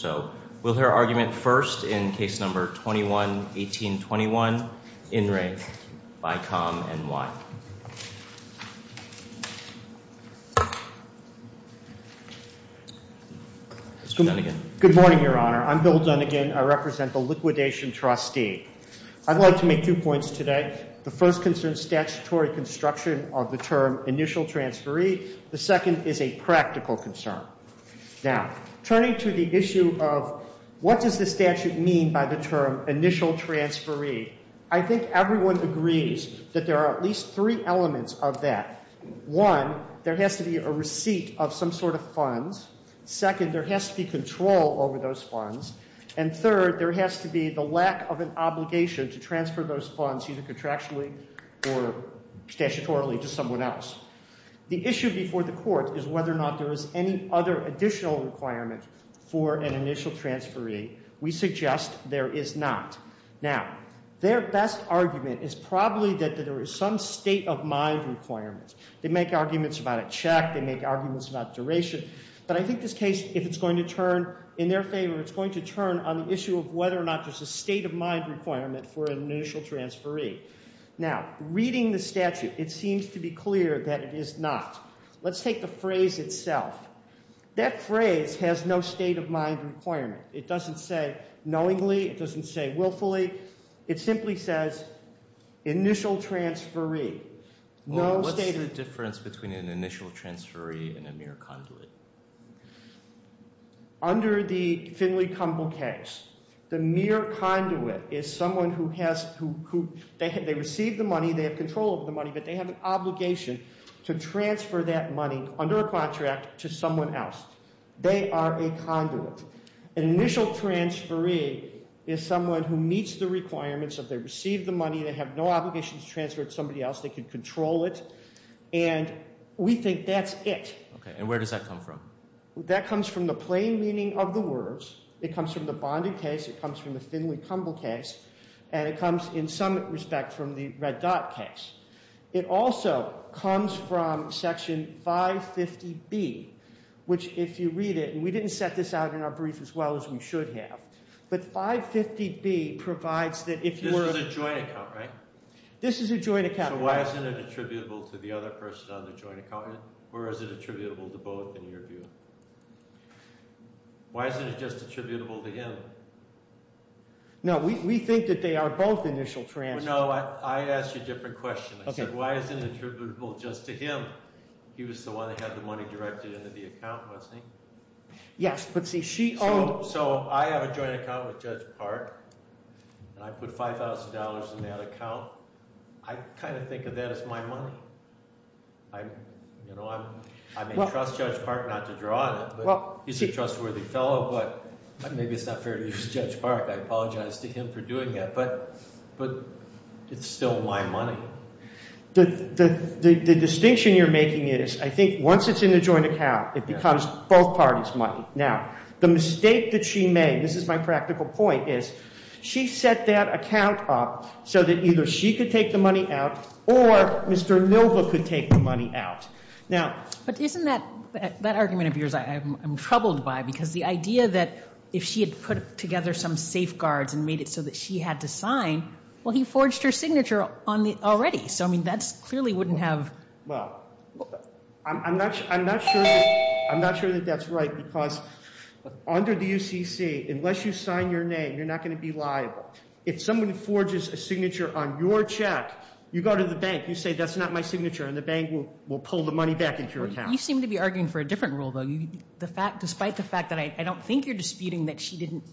So, we'll hear argument first in case number 21-18-21, in re, Bicom NY. Mr. Dunnigan. Good morning, Your Honor. I'm Bill Dunnigan. I represent the liquidation trustee. I'd like to make two points today. The first concerns statutory construction of the term initial transferee. The second is a practical concern. Now, turning to the issue of what does the statute mean by the term initial transferee, I think everyone agrees that there are at least three elements of that. One, there has to be a receipt of some sort of funds. Second, there has to be control over those funds. And third, there has to be the lack of an obligation to transfer those funds either contractually or statutorily to someone else. The issue before the court is whether or not there is any other additional requirement for an initial transferee. We suggest there is not. Now, their best argument is probably that there is some state of mind requirement. They make arguments about a check. They make arguments about duration. But I think this case, if it's going to turn in their favor, it's going to turn on the issue of whether or not there's a state of mind requirement for an initial transferee. Now, reading the statute, it seems to be clear that it is not. Let's take the phrase itself. That phrase has no state of mind requirement. It doesn't say knowingly. It doesn't say willfully. It simply says initial transferee. What's the difference between an initial transferee and a mere conduit? Under the Finley-Campbell case, the mere conduit is someone who has—they receive the money. They have control of the money. But they have an obligation to transfer that money under a contract to someone else. They are a conduit. An initial transferee is someone who meets the requirements of they receive the money. They have no obligation to transfer it to somebody else. They can control it. And we think that's it. And where does that come from? That comes from the plain meaning of the words. It comes from the Bonding case. It comes from the Finley-Campbell case. And it comes, in some respect, from the Red Dot case. It also comes from Section 550B, which if you read it— and we didn't set this out in our brief as well as we should have. But 550B provides that if you were— This is a joint account, right? This is a joint account. So why isn't it attributable to the other person on the joint account? Or is it attributable to both in your view? Why isn't it just attributable to him? No, we think that they are both initial transferees. No, I asked you a different question. I said, why isn't it attributable just to him? He was the one that had the money directed into the account, wasn't he? Yes, but see, she owed— So I have a joint account with Judge Park, and I put $5,000 in that account. I kind of think of that as my money. You know, I may trust Judge Park not to draw on it. He's a trustworthy fellow, but maybe it's not fair to use Judge Park. I apologize to him for doing that, but it's still my money. The distinction you're making is I think once it's in the joint account, it becomes both parties' money. Now, the mistake that she made—this is my practical point— she set that account up so that either she could take the money out or Mr. Milva could take the money out. Now— But isn't that—that argument of yours I'm troubled by because the idea that if she had put together some safeguards and made it so that she had to sign, well, he forged her signature on it already. So, I mean, that clearly wouldn't have— Well, I'm not sure that that's right because under the UCC, unless you sign your name, you're not going to be liable. If someone forges a signature on your check, you go to the bank, you say, that's not my signature, and the bank will pull the money back into your account. You seem to be arguing for a different rule, though. Despite the fact that I don't think you're disputing that she didn't—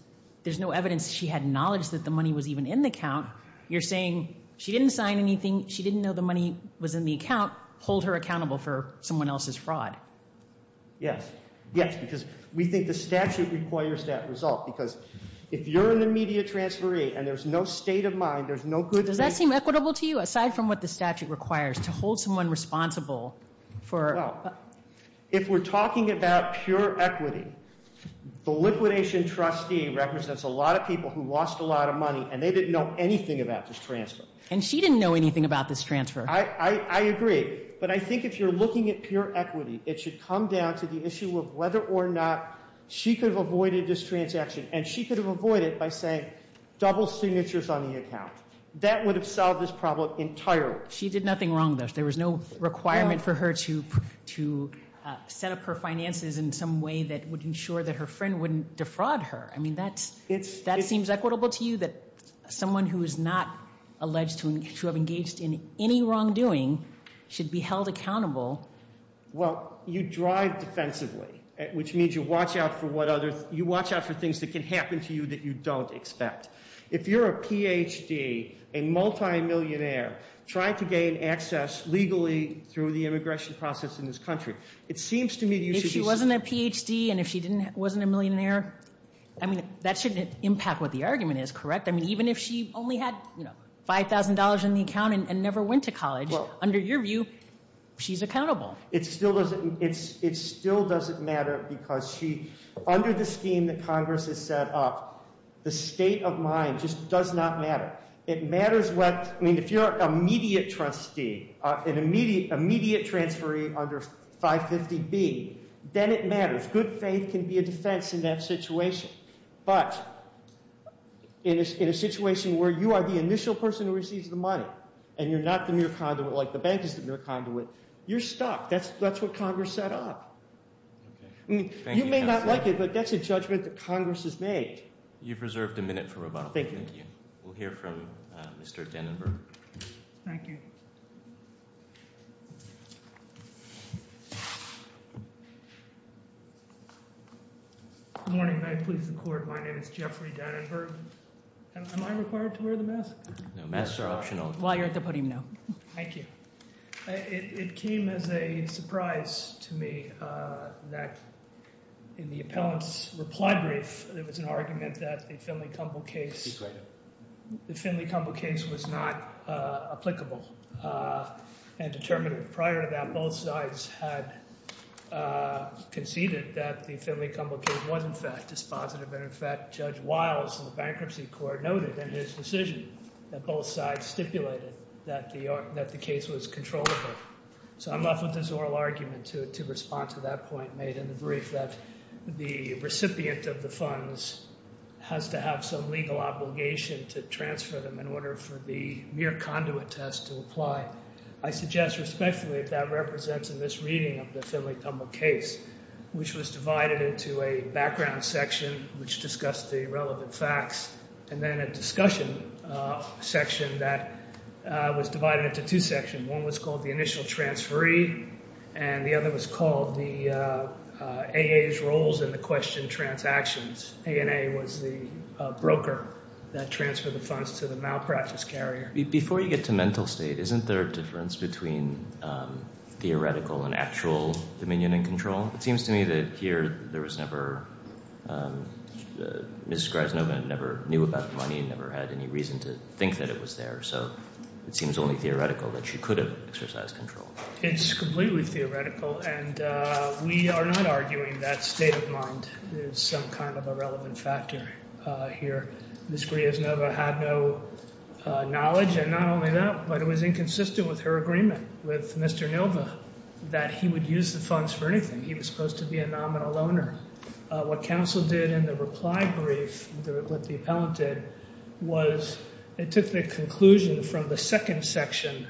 there's no evidence she had knowledge that the money was even in the account, you're saying she didn't sign anything, she didn't know the money was in the account, hold her accountable for someone else's fraud. Yes. Yes. Because we think the statute requires that result because if you're an immediate transferee and there's no state of mind, there's no good— Does that seem equitable to you? Aside from what the statute requires, to hold someone responsible for— Well, if we're talking about pure equity, the liquidation trustee represents a lot of people who lost a lot of money and they didn't know anything about this transfer. And she didn't know anything about this transfer. I agree, but I think if you're looking at pure equity, it should come down to the issue of whether or not she could have avoided this transaction. And she could have avoided it by saying double signatures on the account. That would have solved this problem entirely. She did nothing wrong, though. There was no requirement for her to set up her finances in some way that would ensure that her friend wouldn't defraud her. I mean, that seems equitable to you, that someone who is not alleged to have engaged in any wrongdoing should be held accountable? Well, you drive defensively, which means you watch out for what other— you watch out for things that can happen to you that you don't expect. If you're a Ph.D., a multimillionaire, trying to gain access legally through the immigration process in this country, it seems to me that you should be— If she wasn't a Ph.D. and if she wasn't a millionaire, I mean, that shouldn't impact what the argument is, correct? I mean, even if she only had $5,000 in the account and never went to college, under your view, she's accountable. It still doesn't matter because she— under the scheme that Congress has set up, the state of mind just does not matter. It matters what—I mean, if you're an immediate trustee, an immediate transferee under 550B, then it matters. Good faith can be a defense in that situation. But in a situation where you are the initial person who receives the money and you're not the mere conduit, like the bank is the mere conduit, you're stuck. That's what Congress set up. You may not like it, but that's a judgment that Congress has made. You've reserved a minute for rebuttal. Thank you. We'll hear from Mr. Dannenberg. Thank you. Good morning. May I please the court? My name is Jeffrey Dannenberg. Am I required to wear the mask? Masks are optional. While you're at the podium, no. Thank you. It came as a surprise to me that in the appellant's reply brief, there was an argument that the Finley-Campbell case was not applicable and determined. Prior to that, both sides had conceded that the Finley-Campbell case was in fact dispositive and, in fact, Judge Wiles in the Bankruptcy Court noted in his decision that both sides stipulated that the case was controllable. So I'm left with this oral argument to respond to that point made in the brief that the recipient of the funds has to have some legal obligation to transfer them in order for the mere conduit test to apply. I suggest respectfully that that represents a misreading of the Finley-Campbell case, which was divided into a background section which discussed the relevant facts and then a discussion section that was divided into two sections. One was called the initial transferee and the other was called the A.A.'s roles in the question transactions. A.N.A. was the broker that transferred the funds to the malpractice carrier. Before you get to mental state, isn't there a difference between theoretical and actual dominion and control? It seems to me that here there was never Mrs. Gryaznova never knew about the money and never had any reason to think that it was there, so it seems only theoretical that she could have exercised control. It's completely theoretical, and we are not arguing that state of mind is some kind of a relevant factor here. Mrs. Gryaznova had no knowledge, and not only that, but it was inconsistent with her agreement with Mr. Nova that he would use the funds for anything. He was supposed to be a nominal owner. What counsel did in the reply brief that the appellant did was it took the conclusion from the second section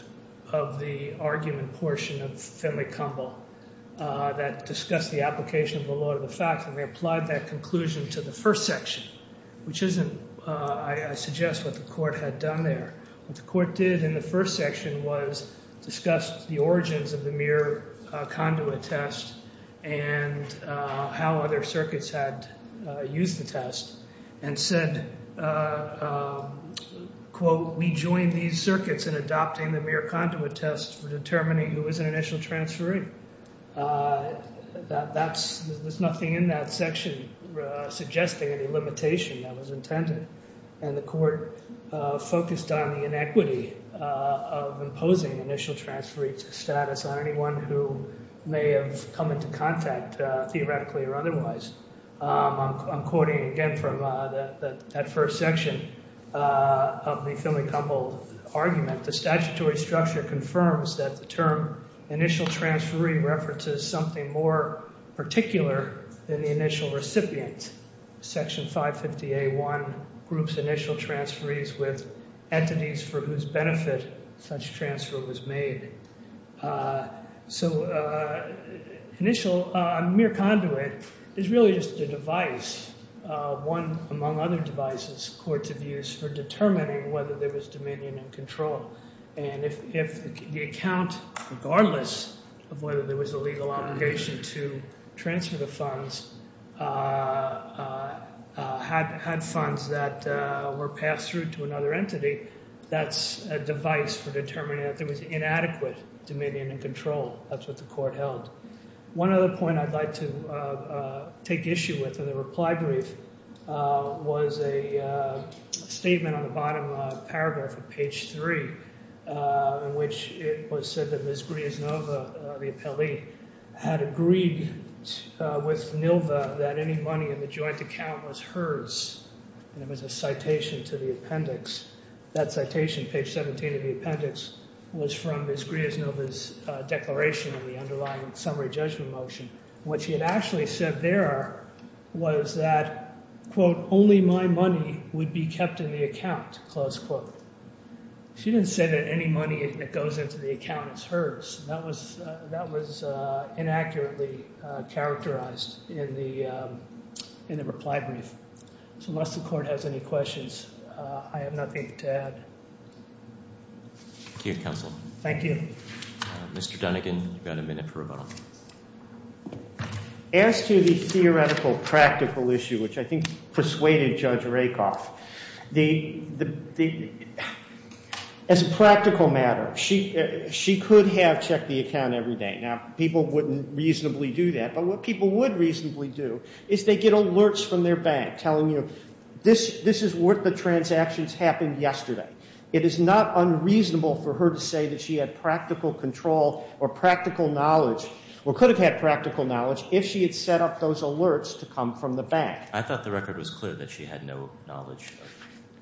of the argument portion of Finley-Campbell that discussed the application of the law to the facts, and they applied that conclusion to the first section, which isn't, I suggest, what the court had done there. What the court did in the first section was discuss the origins of the mere conduit test and how other circuits had used the test and said, quote, we joined these circuits in adopting the mere conduit test for determining who was an initial transferee. There's nothing in that section suggesting any limitation that was intended, and the court focused on the inequity of imposing initial transferee status on anyone who may have come into contact theoretically or otherwise. I'm quoting again from that first section of the Finley-Campbell argument. The statutory structure confirms that the term initial transferee refers to something more particular than the initial recipient. Section 550A1 groups initial transferees with entities for whose benefit such transfer was made. So a mere conduit is really just a device, one among other devices courts have used for determining whether there was dominion and control. And if the account, regardless of whether there was a legal obligation to transfer the funds, had funds that were passed through to another entity, that's a device for determining that there was inadequate dominion and control. That's what the court held. One other point I'd like to take issue with in the reply brief was a statement on the bottom paragraph of page 3, in which it was said that Ms. Grieznova, the appellee, had agreed with NILVA that any money in the joint account was hers, and it was a citation to the appendix. That citation, page 17 of the appendix, was from Ms. Grieznova's declaration of the underlying summary judgment motion. What she had actually said there was that, quote, only my money would be kept in the account, close quote. She didn't say that any money that goes into the account is hers. That was inaccurately characterized in the reply brief. So unless the court has any questions, I have nothing to add. Thank you, counsel. Thank you. Mr. Dunnigan, you've got a minute for rebuttal. As to the theoretical practical issue, which I think persuaded Judge Rakoff, as a practical matter, she could have checked the account every day. Now, people wouldn't reasonably do that, but what people would reasonably do is they get alerts from their bank telling you, this is what the transactions happened yesterday. It is not unreasonable for her to say that she had practical control or practical knowledge or could have had practical knowledge if she had set up those alerts to come from the bank. I thought the record was clear that she had no knowledge.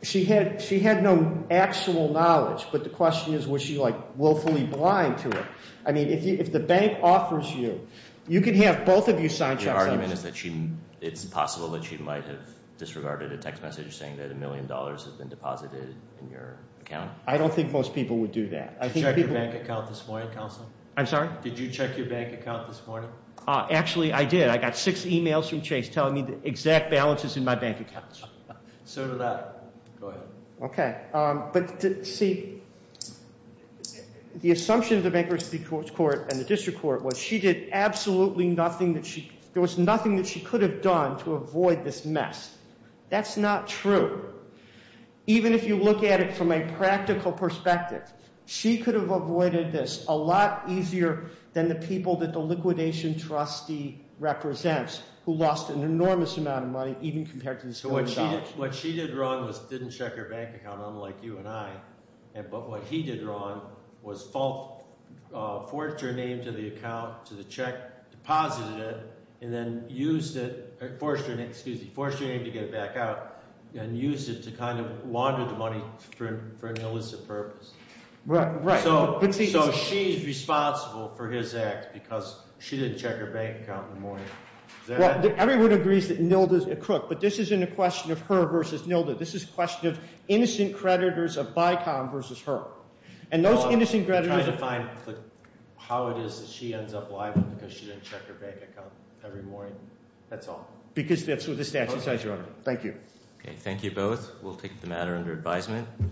She had no actual knowledge, but the question is, was she, like, willfully blind to it? I mean, if the bank offers you, you can have both of you sign checks. Your argument is that it's possible that she might have disregarded a text message saying that a million dollars had been deposited in your account? I don't think most people would do that. Did you check your bank account this morning, counsel? I'm sorry? Did you check your bank account this morning? Actually, I did. I got six emails from Chase telling me the exact balance is in my bank account. So did I. Go ahead. Okay. But, see, the assumption of the bankruptcy court and the district court was she did absolutely nothing that she could have done to avoid this mess. That's not true. Even if you look at it from a practical perspective, she could have avoided this a lot easier than the people that the liquidation trustee represents who lost an enormous amount of money even compared to this amount of knowledge. What she did wrong was didn't check her bank account, unlike you and I. But what he did wrong was forced her name to the account, to the check, deposited it, and then used it, excuse me, forced her name to get it back out and used it to kind of launder the money for an illicit purpose. Right. So she's responsible for his act because she didn't check her bank account in the morning. Everyone agrees that NILDA is a crook, but this isn't a question of her versus NILDA. This is a question of innocent creditors of BICOM versus her. And those innocent creditors. I'm trying to find how it is that she ends up liable because she didn't check her bank account every morning. That's all. Because that's what the statute says, Your Honor. Thank you. Okay. Thank you both. We'll take the matter under advisement.